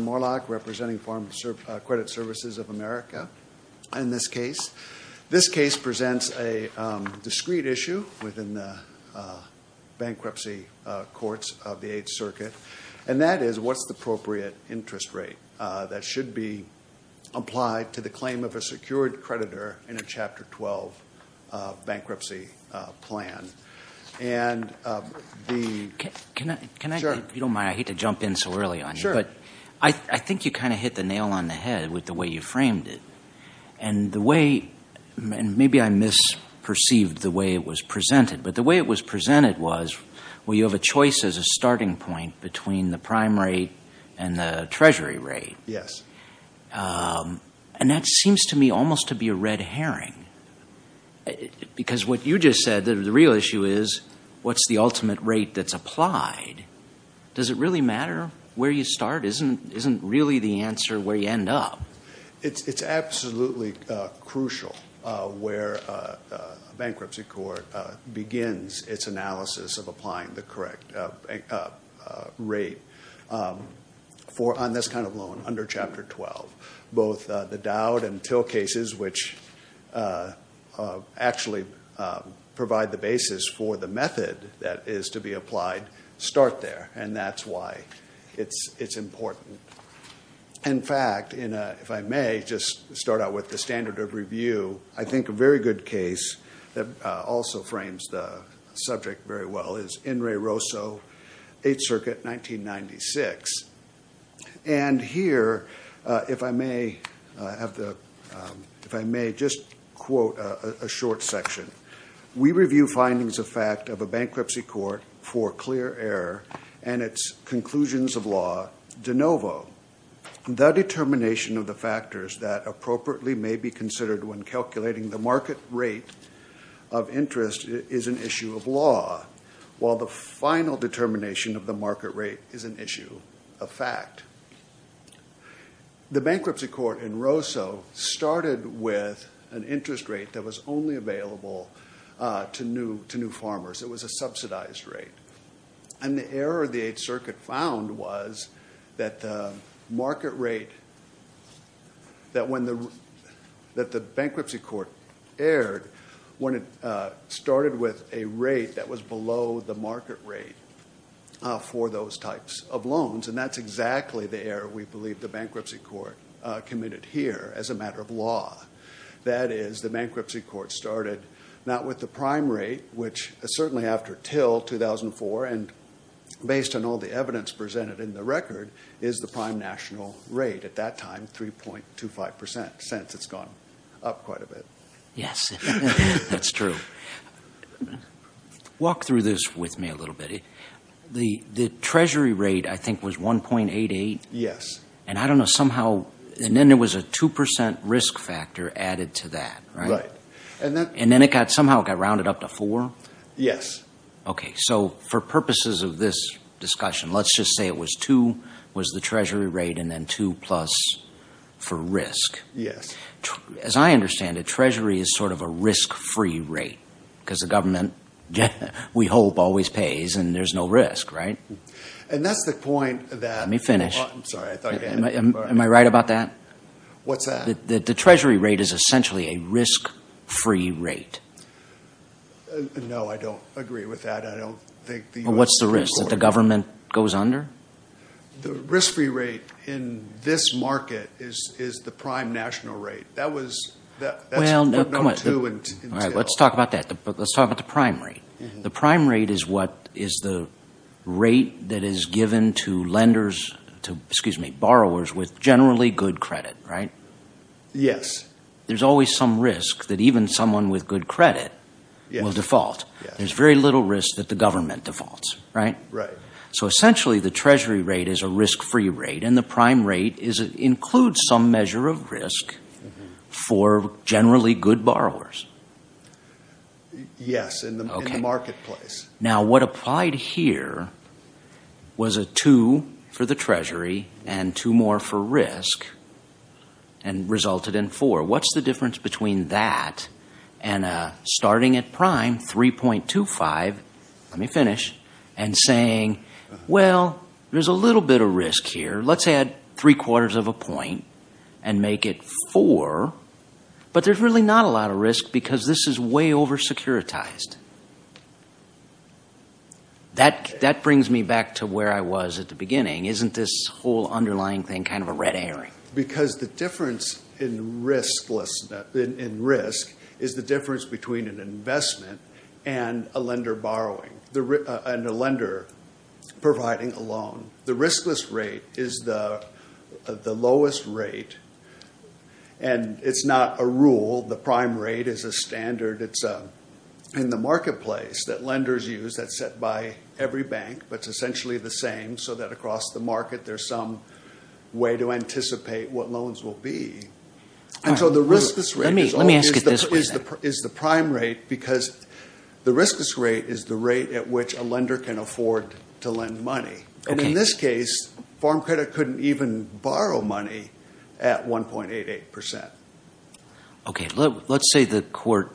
Morlock representing Farm Credit Services of America in this case. This case presents a discreet issue within the bankruptcy courts of the Eighth Circuit, and that is what's the appropriate interest rate that should be applied to the claim of a secured creditor in a Chapter 12 bankruptcy plan. I think you kind of hit the nail on the head with the way you framed it, and maybe I misperceived the way it was presented, but the way it was presented was you have a choice as a starting point between the prime rate and the treasury rate, and that seems to me almost to be a red herring because what you just said, the real issue is what's the ultimate rate that's applied. Does it really matter where you start? Isn't really the answer where you end up? It's absolutely crucial where a bankruptcy court begins its analysis of applying the correct rate on this kind of loan under Chapter 12. Both the Dowd and Till cases, which actually provide the basis for the method that is to be applied, start there, and that's why it's important. In fact, if I may just start out with the standard of review, I think a very good case that also frames the subject very well is Enri Rosso, 8th Circuit, 1996. And here, if I may just quote a short section, we review findings of fact of a bankruptcy court for clear error and its conclusions of law de novo. The determination of the factors that appropriately may be considered when calculating the market rate of interest is an issue of law, while the final determination of the market rate is an issue of fact. The bankruptcy court in Rosso started with an interest rate that was only available to new farmers. It was a subsidized rate. And the thing that the 8th Circuit found was that the market rate that the bankruptcy court erred, when it started with a rate that was below the market rate for those types of loans, and that's exactly the error we believe the bankruptcy court committed here as a matter of law. That is, the bankruptcy court started not with the prime rate, which certainly after all, 2004, and based on all the evidence presented in the record, is the prime national rate at that time, 3.25 percent, since it's gone up quite a bit. Yes, that's true. Walk through this with me a little bit. The treasury rate, I think, was 1.88? Yes. And I don't know, somehow, and then there was a 2 percent risk factor added to that, right? Right. And then it got, somehow it got rounded up to 4? Yes. Okay. So, for purposes of this discussion, let's just say it was 2, was the treasury rate, and then 2 plus for risk. Yes. As I understand it, treasury is sort of a risk-free rate, because the government, we hope, always pays, and there's no risk, right? And that's the point that... Let me finish. I'm sorry, I thought you had... Am I right about that? What's that? That the treasury rate is essentially a risk-free rate. No, I don't agree with that. I don't think the U.S. is... Well, what's the risk that the government goes under? The risk-free rate in this market is the prime national rate. That was... Well, no, come on. That's number two in sales. All right, let's talk about that. Let's talk about the prime rate. The prime rate is what is the rate that is given to lenders, excuse me, borrowers, with generally good credit, right? Yes. There's always some risk that even someone with good credit will default. There's very little risk that the government defaults, right? Right. So essentially, the treasury rate is a risk-free rate, and the prime rate includes some measure of risk for generally good borrowers. Yes, in the marketplace. Now what applied here was a 2 for the treasury and 2 more for risk, and the prime rate is resulted in 4. What's the difference between that and starting at prime, 3.25, let me finish, and saying, well, there's a little bit of risk here. Let's add three-quarters of a point and make it 4, but there's really not a lot of risk because this is way over-securitized. That brings me back to where I was at the beginning. Isn't this whole underlying thing kind of a red herring? Because the difference in risk is the difference between an investment and a lender borrowing, and a lender providing a loan. The riskless rate is the lowest rate, and it's not a rule. The prime rate is a standard. It's in the marketplace that lenders use that's set by every bank, but it's essentially the same so that across the market there's some way to anticipate what loans will be. The riskless rate is the prime rate because the riskless rate is the rate at which a lender can afford to lend money. In this case, farm credit couldn't even borrow money at 1.88%. Let's say the court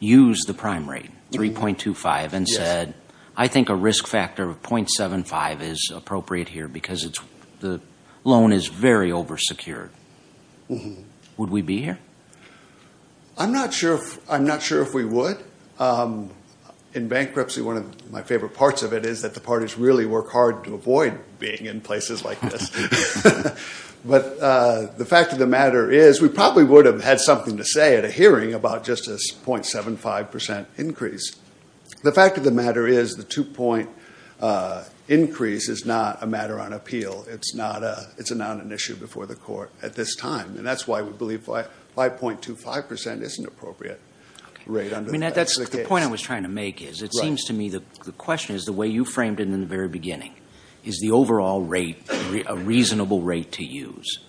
used the prime rate, 3.25, and said I think a risk factor of .75 is appropriate here because the loan is very over-secured. Would we be here? I'm not sure if we would. In bankruptcy, one of my favorite parts of it is that the parties really work hard to avoid being in places like this. The fact of the matter is we probably would have had something to say at a hearing about just this .75% increase. The fact of the matter is the two-point increase is not a matter on appeal. It's not an issue before the court at this time, and that's why we believe 5.25% isn't an appropriate rate. The point I was trying to make is it seems to me the question is the way you framed it in the very beginning, is the overall rate a reasonable rate to use?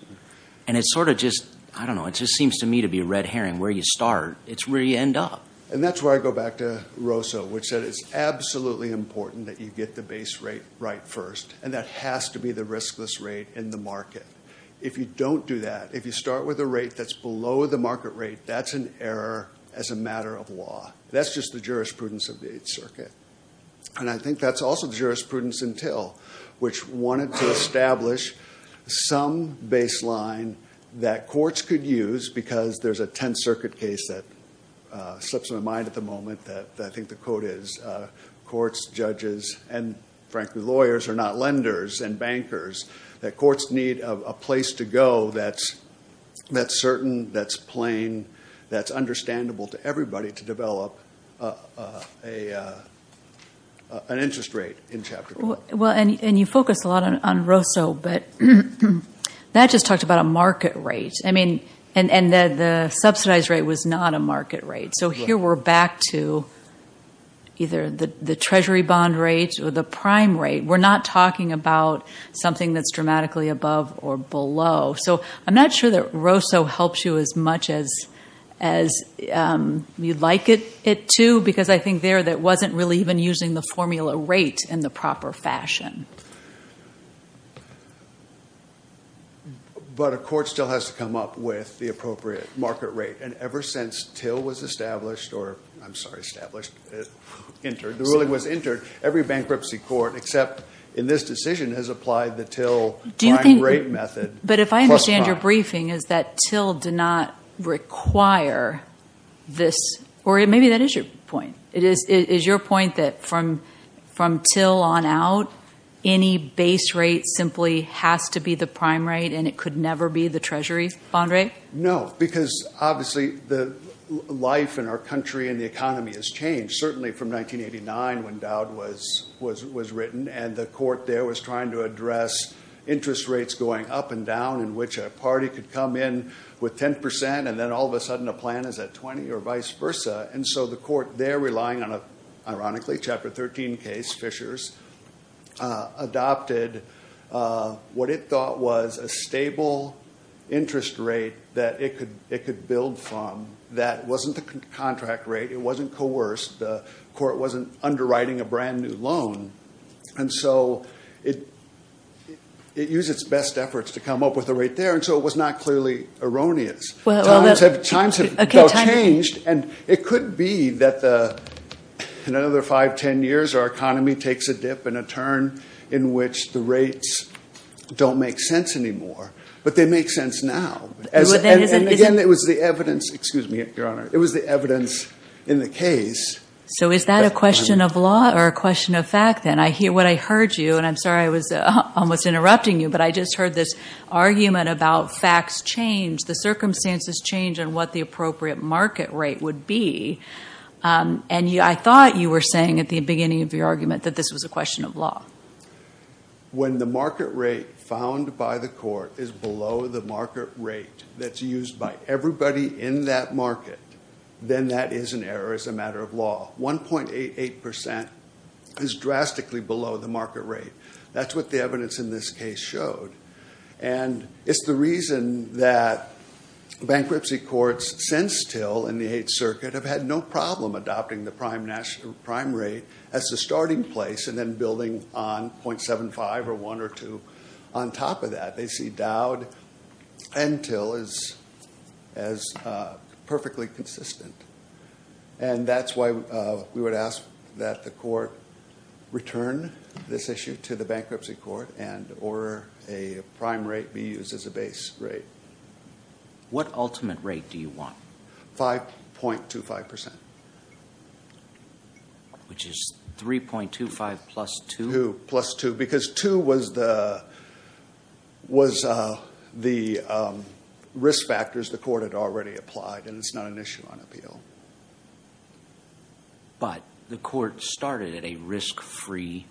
I don't know. It just seems to me to be a red herring where you start. It's where you end up. That's where I go back to Rosso, which said it's absolutely important that you get the base rate right first, and that has to be the riskless rate in the market. If you don't do that, if you start with a rate that's below the market rate, that's an error as a matter of law. That's just the jurisprudence of the Eighth Circuit. I think that's also the jurisprudence until, which wanted to establish some baseline that courts could use because there's a Tenth Circuit case that slips into mind at the moment that I think the quote is courts, judges, and frankly lawyers are not lenders and bankers, that courts need a place to go that's certain, that's plain, that's understandable to everybody to develop an interest rate in Chapter 12. You focus a lot on Rosso, but that just talked about a market rate, and the subsidized rate was not a market rate. So here we're back to either the Treasury bond rate or the prime rate. We're not talking about something that's dramatically above or below. So I'm not sure that Rosso helps you as much as you'd like it to because I think there that wasn't really even using the formula rate in the proper fashion. But a court still has to come up with the appropriate market rate, and ever since Till was established, or I'm sorry, established, entered, the ruling was entered, every bankruptcy court except in this decision has applied the Till prime rate method. But if I understand your briefing is that Till did not require this, or maybe that is your point. Is your point that from Till on out, any base rate simply has to be the prime rate and it could never be the Treasury bond rate? No, because obviously the life in our country and the economy has changed, certainly from 1989 when Dowd was written, and the court there was trying to address interest rates going up and down in which a party could come in with 10% and then all of a sudden a plan is at 20 or vice versa, and so the court there relying on a, ironically, Chapter 13 case, Fishers, adopted what it thought was a stable interest rate that it could build from that wasn't the contract rate, it wasn't coerced, the court wasn't underwriting a brand new loan, and so it used its best efforts to come up with a rate there, and so it was not clearly erroneous. Times have changed, and it could be that in another 5, 10 years our economy takes a dip and a turn in which the rates don't make sense anymore, but they make sense now. And again, it was the evidence, excuse me, Your Honor, it was the evidence in the case. So is that a question of law or a question of fact then? What I heard you, and I'm sorry I was almost interrupting you, but I just heard this argument about facts change, the circumstances change, and what the appropriate market rate would be, and I thought you were saying at the beginning of your argument that this was a question of law. When the market rate found by the court is below the market rate that's used by everybody in that market, then that is an error as a matter of law. 1.88% is drastically below the market rate. That's what the evidence in this case showed, and it's the reason that bankruptcy courts since Till in the 8th Circuit have had no problem adopting the prime rate as the starting place and then building on .75 or 1 or 2 on top of that. They see Dowd and Till as perfectly consistent. And that's why we would ask that the court return this issue to the bankruptcy court and order a prime rate be used as a base rate. What ultimate rate do you want? 5.25%. Which is 3.25 plus 2? 3.25 plus 2, because 2 was the risk factors the court had already applied, and it's not an issue on appeal. But the court started at a risk-free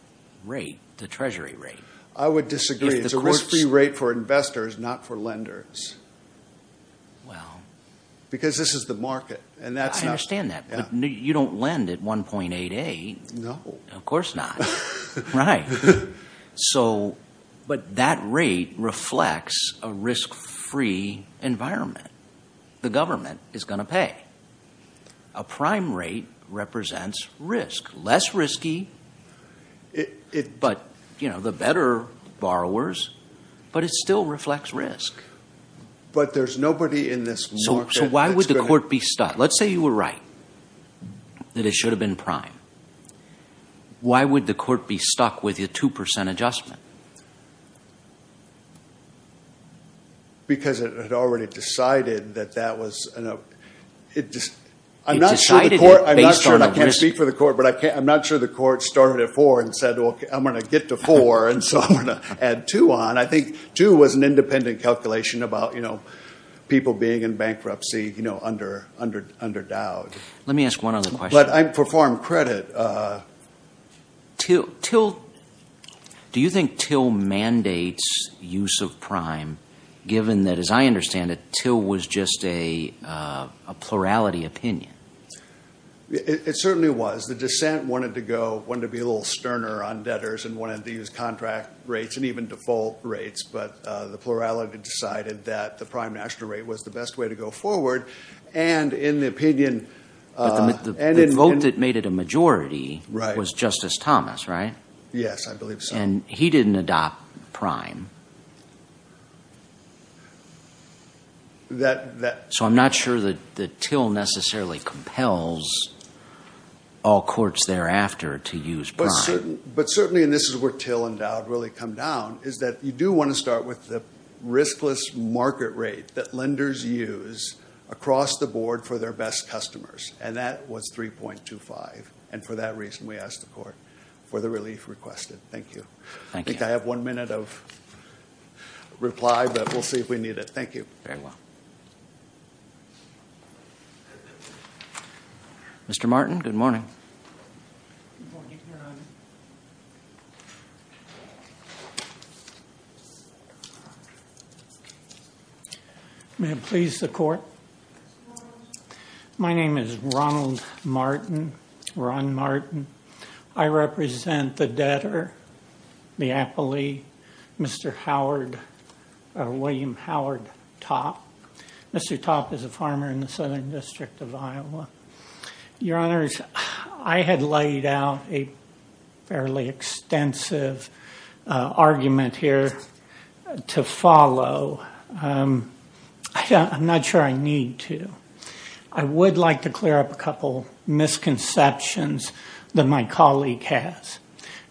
rate, the Treasury rate. I would disagree. It's a risk-free rate for investors, not for lenders, because this is the market. I understand that, but you don't lend at 1.88. No. Of course not. Right. So, but that rate reflects a risk-free environment. The government is going to pay. A prime rate represents risk. Less risky, but, you know, the better borrowers, but it still reflects risk. But there's nobody in this market that's going to... Why would the court be stuck with a 2% adjustment? Because it had already decided that that was... I'm not sure the court... It decided it based on the risk. I can't speak for the court, but I'm not sure the court started at 4 and said, well, I'm going to get to 4, and so I'm going to add 2 on. I think 2 was an independent calculation about, you know, people being in bankruptcy, you know, under endowed. Let me ask one other question. But I perform credit. Do you think Till mandates use of prime, given that, as I understand it, Till was just a plurality opinion? It certainly was. The dissent wanted to go, wanted to be a little sterner on debtors and wanted to use contract rates and even default rates, but the plurality decided that the prime national rate was the best way to go forward, and in the opinion... But the vote that made it a majority was Justice Thomas, right? Yes, I believe so. And he didn't adopt prime. So I'm not sure that Till necessarily compels all courts thereafter to use prime. But certainly, and this is where Till and Dowd really come down, is that you do want to start with the riskless market rate that lenders use across the board for their best customers. And that was 3.25. And for that reason, we asked the court for the relief requested. Thank you. Thank you. I think I have one minute of reply, but we'll see if we need it. Thank you. Very well. Mr. Martin, good morning. Good morning, Your Honor. May it please the court. My name is Ronald Martin, Ron Martin. I represent the debtor, the appellee, Mr. Howard, William Howard Topp. Mr. Topp is a farmer in the Southern District of Iowa. Your Honors, I had laid out a fairly extensive argument here to follow. I'm not sure I need to. I would like to clear up a couple misconceptions that my colleague has.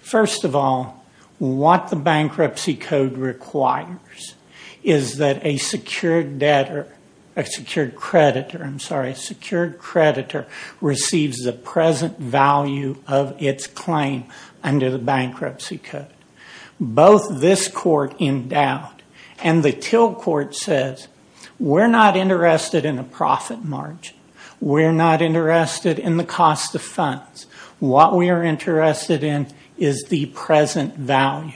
First of all, what the bankruptcy code requires is that a secured debtor, a secured creditor, a secured creditor receives the present value of its claim under the bankruptcy code. Both this court in doubt and the Till Court says, we're not interested in a profit margin. We're not interested in the cost of funds. What we are interested in is the present value.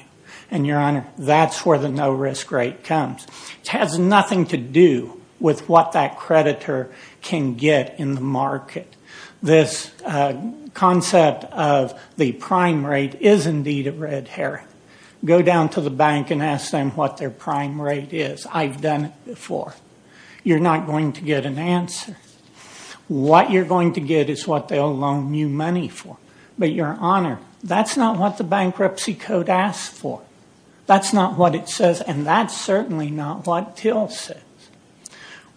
And Your Honor, that's where the no risk rate comes. It has nothing to do with what that creditor can get in the market. This concept of the prime rate is indeed a red herring. Go down to the bank and ask them what their prime rate is. I've done it before. You're not going to get an answer. What you're going to get is what they'll loan you money for. But Your Honor, that's not what the bankruptcy code asks for. That's not what it says and that's certainly not what Till says.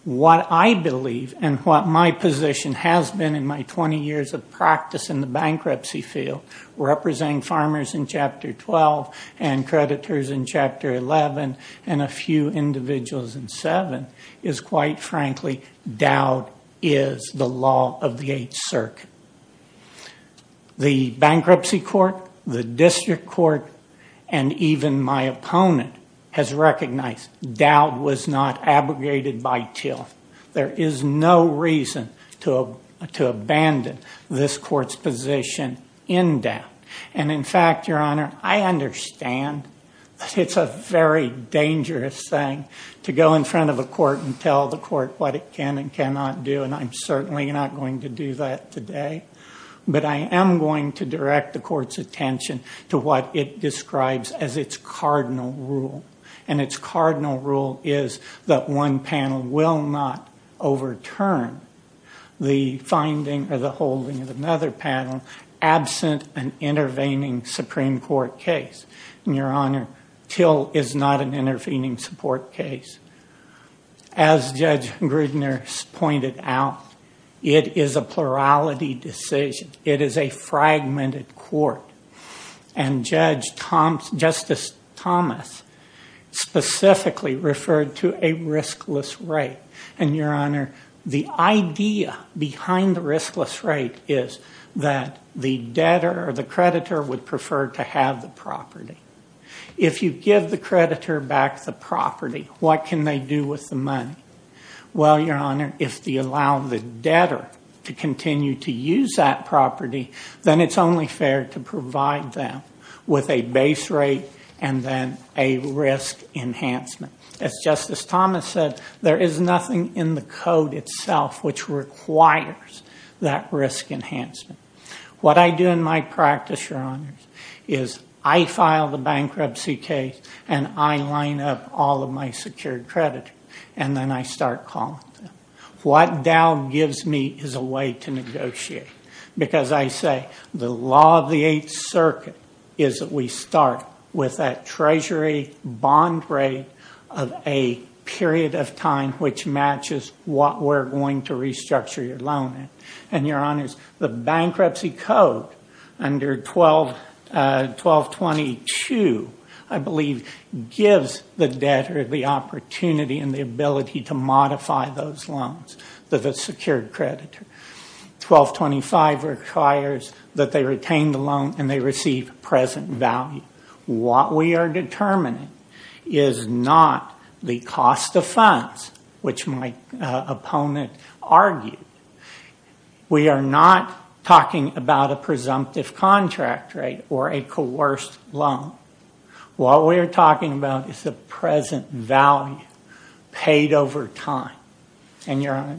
What I believe and what my position has been in my 20 years of practice in the bankruptcy field representing farmers in Chapter 12 and creditors in Chapter 11 and a few individuals in 7 is quite frankly, doubt is the law of the 8th circuit. The bankruptcy court, the district court, and even my opponent has recognized doubt was not abrogated by Till. There is no reason to abandon this court's position in doubt. And in fact, Your Honor, I understand that it's a very dangerous thing to go in front of a court and tell the court what it can and cannot do and I'm certainly not going to do that today. But I am going to direct the court's attention to what it describes as its cardinal rule. And its cardinal rule is that one panel will not overturn the finding or the holding of another panel absent an intervening Supreme Court case. And Your Honor, Till is not an intervening support case. As Judge Grudner pointed out, it is a plurality decision. It is a fragmented court. And Justice Thomas specifically referred to a riskless rate. And Your Honor, the idea behind the riskless rate is that the debtor or the creditor would prefer to have the property. If you give the creditor back the property, what can they do with the money? Well, Your Honor, if they allow the debtor to continue to use that property, then it's only fair to provide them with a base rate and then a risk enhancement. As Justice Thomas said, there is nothing in the code itself which requires that risk enhancement. What I do in my practice, Your Honors, is I file the bankruptcy case and I line up all of my secured creditors. And then I start calling them. What Dow gives me is a way to negotiate. Because I say the law of the Eighth Circuit is that we start with that treasury bond rate of a period of time which matches what we're going to restructure your loan in. And Your Honors, the bankruptcy code under 1222, I believe, gives the debtor the opportunity and the ability to modify those loans that the secured creditor. 1225 requires that they retain the loan and they receive present value. What we are determining is not the cost of funds, which my opponent argued. We are not talking about a presumptive contract rate or a coerced loan. What we are talking about is the present value paid over time. And Your Honor?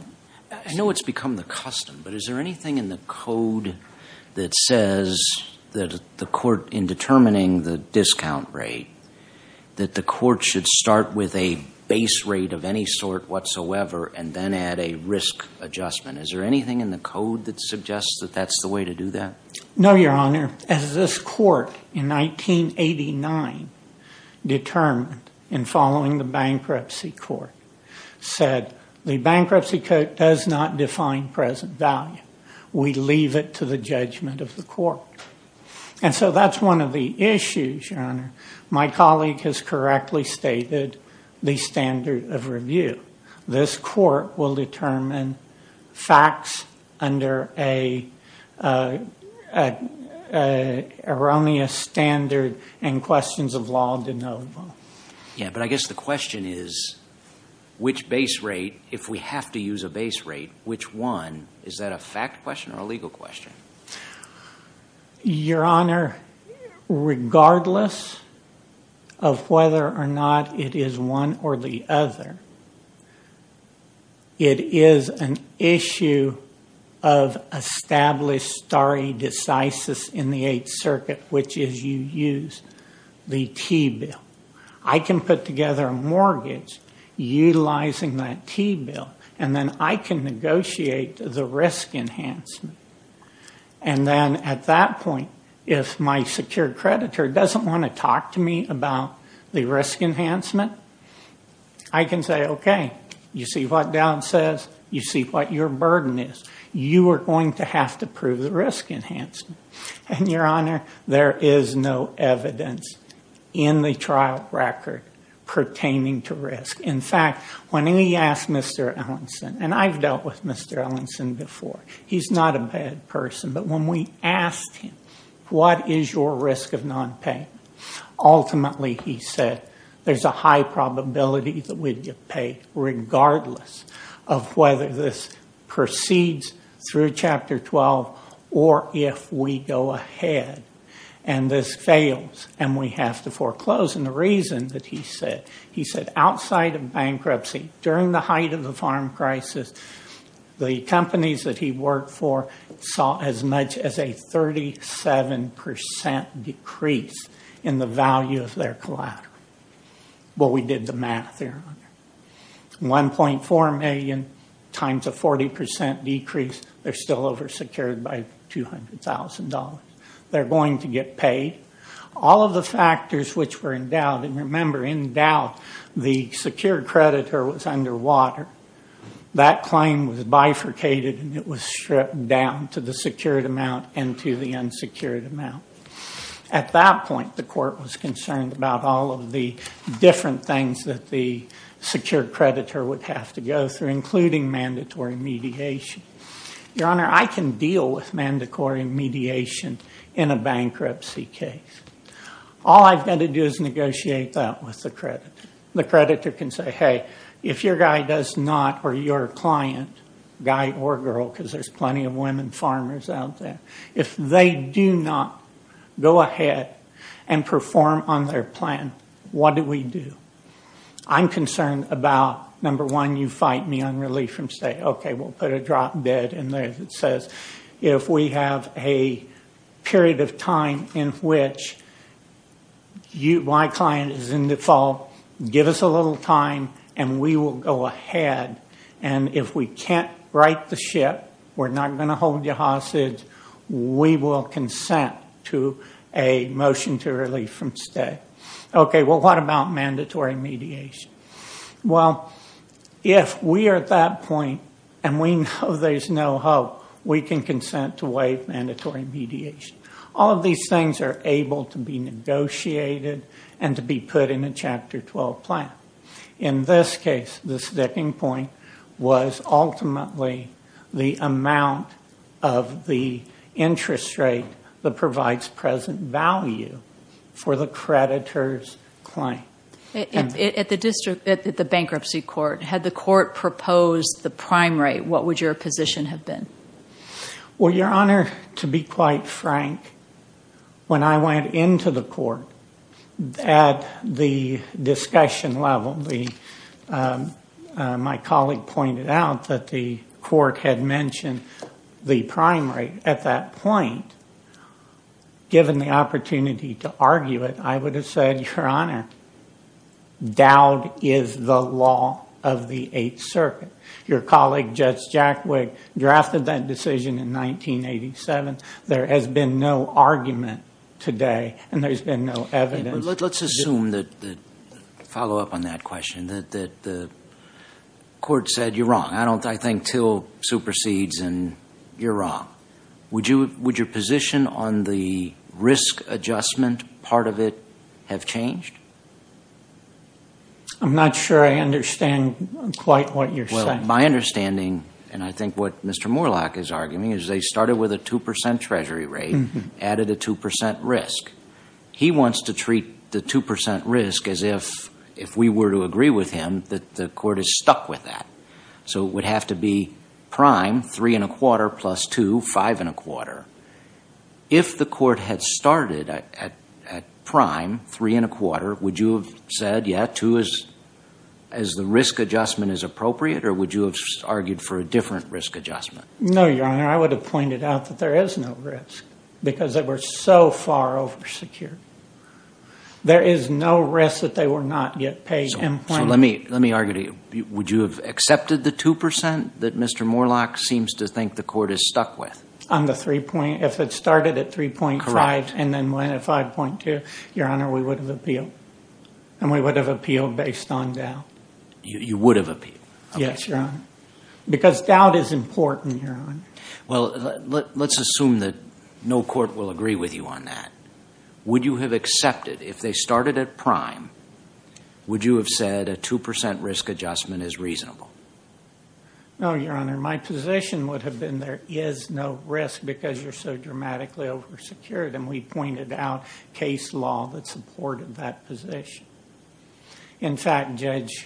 I know it's become the custom, but is there anything in the code that says that the court in determining the discount rate, that the court should start with a base rate of any sort whatsoever and then add a risk adjustment? Is there anything in the code that suggests that that's the way to do that? No, Your Honor. As this court in 1989 determined in following the bankruptcy court said, the bankruptcy code does not define present value. We leave it to the judgment of the court. And so that's one of the issues, Your Honor. My colleague has correctly stated the standard of review. This court will determine facts under an erroneous standard and questions of law de novo. Yeah, but I guess the question is, which base rate, if we have to use a base rate, which one, is that a fact question or a legal question? Your Honor, regardless of whether or not it is one or the other, it is an issue of established stare decisis in the Eighth Circuit, which is you use the T-bill. I can put together a mortgage utilizing that T-bill and then I can negotiate the risk enhancement. And then at that point, if my secure creditor doesn't want to talk to me about the risk enhancement, I can say, okay, you see what Dow says. You see what your burden is. You are going to have to prove the risk enhancement. And Your Honor, there is no evidence in the trial record pertaining to risk. In fact, when we asked Mr. Ellenson, and I've dealt with Mr. Ellenson before. He's not a bad person. But when we asked him, what is your risk of nonpayment? Ultimately, he said, there's a high probability that we'd get paid regardless of whether this proceeds through Chapter 12 or if we go ahead and this fails and we have to foreclose. And the reason that he said, he said, outside of bankruptcy, during the height of the farm crisis, the companies that he worked for saw as much as a 37% decrease in the value of their collateral. Well, we did the math, Your Honor. 1.4 million times a 40% decrease, they're still oversecured by $200,000. They're going to get paid. All of the factors which were in doubt, and remember, in doubt, the secure creditor was underwater. That claim was bifurcated and it was stripped down to the secured amount and to the unsecured amount. At that point, the court was concerned about all of the different things that the secure creditor would have to go through, including mandatory mediation. Your Honor, I can deal with mandatory mediation in a bankruptcy case. All I've got to do is negotiate that with the creditor. The creditor can say, hey, if your guy does not, or your client, guy or girl, because there's plenty of women farmers out there, if they do not go ahead and perform on their plan, what do we do? I'm concerned about, number one, you fight me on relief from stay, okay, we'll put a drop dead in there that says if we have a period of time in which my client is in default, give us a little time and we will go ahead. And if we can't right the ship, we're not going to hold you hostage, we will consent to a motion to relief from stay. Okay, well, what about mandatory mediation? Well, if we are at that point and we know there's no hope, we can consent to waive mandatory mediation. All of these things are able to be negotiated and to be put in a Chapter 12 plan. In this case, the sticking point was ultimately the amount of the interest rate that provides present value for the creditor's claim. At the bankruptcy court, had the court proposed the prime rate, what would your position have been? Well, Your Honor, to be quite frank, when I went into the court at the discussion level, my colleague pointed out that the court had mentioned the prime rate at that point. Given the opportunity to argue it, I would have said, Your Honor, doubt is the law of the Eighth Circuit. Your colleague, Judge Jackwig, drafted that decision in 1987. There has been no argument today and there's been no evidence. Let's assume that, to follow up on that question, that the court said, you're wrong, I think Till supersedes and you're wrong. Would your position on the risk adjustment part of it have changed? I'm not sure I understand quite what you're saying. My understanding, and I think what Mr. Moorlach is arguing, is they started with a 2% treasury rate, added a 2% risk. He wants to treat the 2% risk as if we were to agree with him that the court is stuck with that. It would have to be prime, three and a quarter, plus two, five and a quarter. If the court had started at prime, three and a quarter, would you have said, yeah, two as the risk adjustment is appropriate, or would you have argued for a different risk adjustment? No, Your Honor, I would have pointed out that there is no risk because they were so far oversecured. There is no risk that they were not yet paid in plain. Let me argue to you. Would you have accepted the 2% that Mr. Moorlach seems to think the court is stuck with? If it started at 3.5 and then went at 5.2, Your Honor, we would have appealed. We would have appealed based on doubt. You would have appealed? Yes, Your Honor, because doubt is important, Your Honor. Well, let's assume that no court will agree with you on that. Would you have accepted, if they started at prime, would you have said a 2% risk adjustment is reasonable? No, Your Honor, my position would have been there is no risk because you're so dramatically oversecured, and we pointed out case law that supported that position. In fact, Judge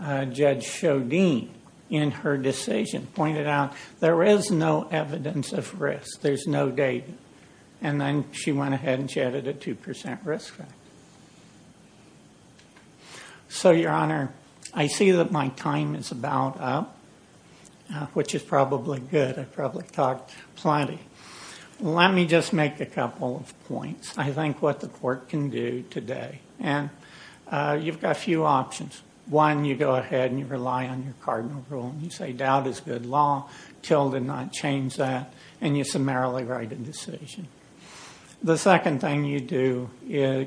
Chaudine, in her decision, pointed out there is no evidence of risk. There's no data, and then she went ahead and she added a 2% risk factor. So, Your Honor, I see that my time is about up, which is probably good. I probably talked plenty. Let me just make a couple of points. I think what the court can do today, and you've got a few options. One, you go ahead and you rely on your cardinal rule. You say doubt is good law. Till did not change that, and you summarily write a decision. The second thing you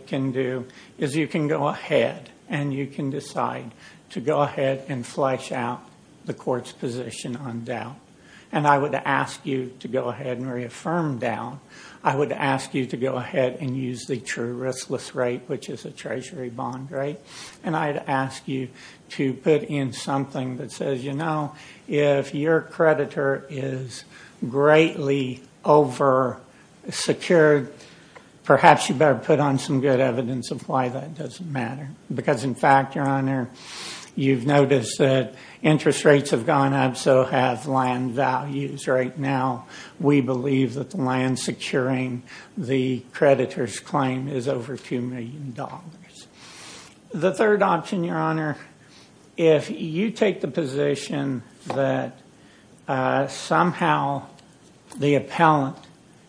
can do is you can go ahead and you can decide to go ahead and flesh out the court's position on doubt, and I would ask you to go ahead and reaffirm doubt. I would ask you to go ahead and use the true riskless rate, which is a treasury bond rate, and I'd ask you to put in something that says, if your creditor is greatly over-secured, perhaps you better put on some good evidence of why that doesn't matter, because in fact, Your Honor, you've noticed that interest rates have gone up, so have land values right now. We believe that the land securing the creditor's claim is over $2 million. The third option, Your Honor, if you take the position that somehow the appellant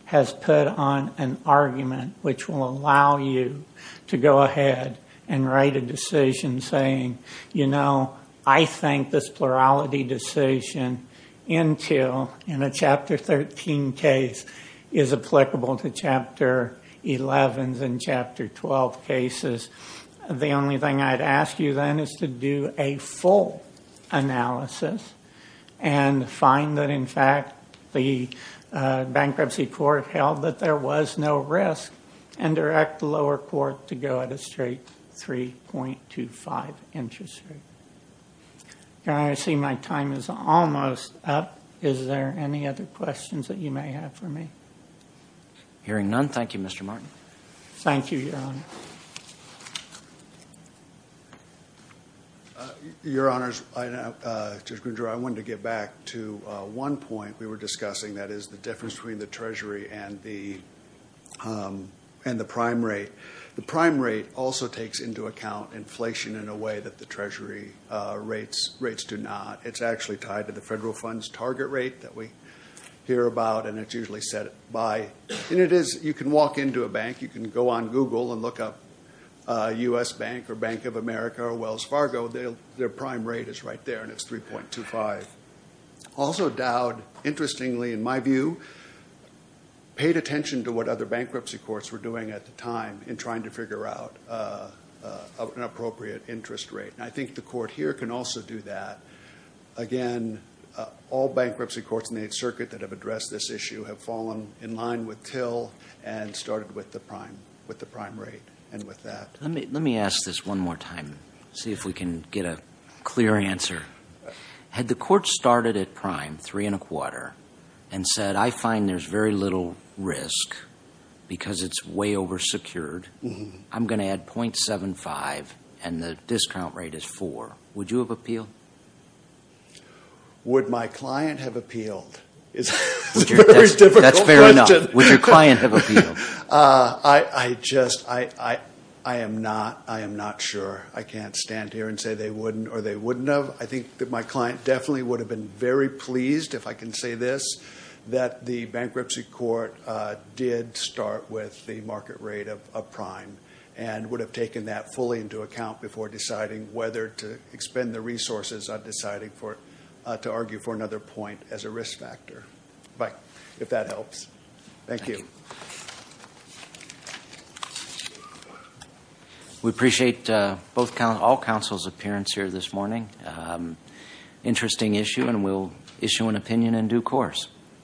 has put on an argument which will allow you to go ahead and write a decision saying, you know, I think this plurality decision until in a Chapter 13 case is applicable to Chapter 11 and Chapter 12 cases, the only thing I'd ask you then is to do a full analysis and find that in fact the bankruptcy court held that there was no risk and direct the lower court to go at a straight 3.25 interest rate. Your Honor, I see my time is almost up. Is there any other questions that you may have for me? Hearing none, thank you, Mr. Martin. Thank you, Your Honor. Your Honors, I wanted to get back to one point we were discussing, that is the difference between the treasury and the prime rate. The prime rate also takes into account inflation in a way that the treasury rates do not. It's actually tied to the federal fund's target rate that we hear about, and it's usually set by, and it is, you can walk into a bank, you can go on Google and look up U.S. Bank or Bank of America or Wells Fargo. Their prime rate is right there, and it's 3.25. Also Dowd, interestingly in my view, paid attention to what other bankruptcy courts were doing at the time in trying to figure out an appropriate interest rate. I think the court here can also do that. Again, all bankruptcy courts in the 8th Circuit that have addressed this issue have fallen in line with Till and started with the prime rate and with that. Let me ask this one more time, see if we can get a clear answer. Had the court started at prime, 3.25, and said, I find there's very little risk because it's way oversecured, I'm going to add 0.75 and the discount rate is 4, would you have appealed? Would my client have appealed? That's a very difficult question. That's fair enough. Would your client have appealed? I just, I am not sure. I can't stand here and say they wouldn't or they wouldn't have. I think that my client definitely would have been very pleased, if I can say this, that the bankruptcy court did start with the market rate of prime and would have taken that fully into account before deciding whether to expend the resources on deciding for, to argue for another point as a risk factor. But if that helps, thank you. We appreciate all counsel's appearance here this morning. Interesting issue and we'll issue an opinion in due course. Thank you.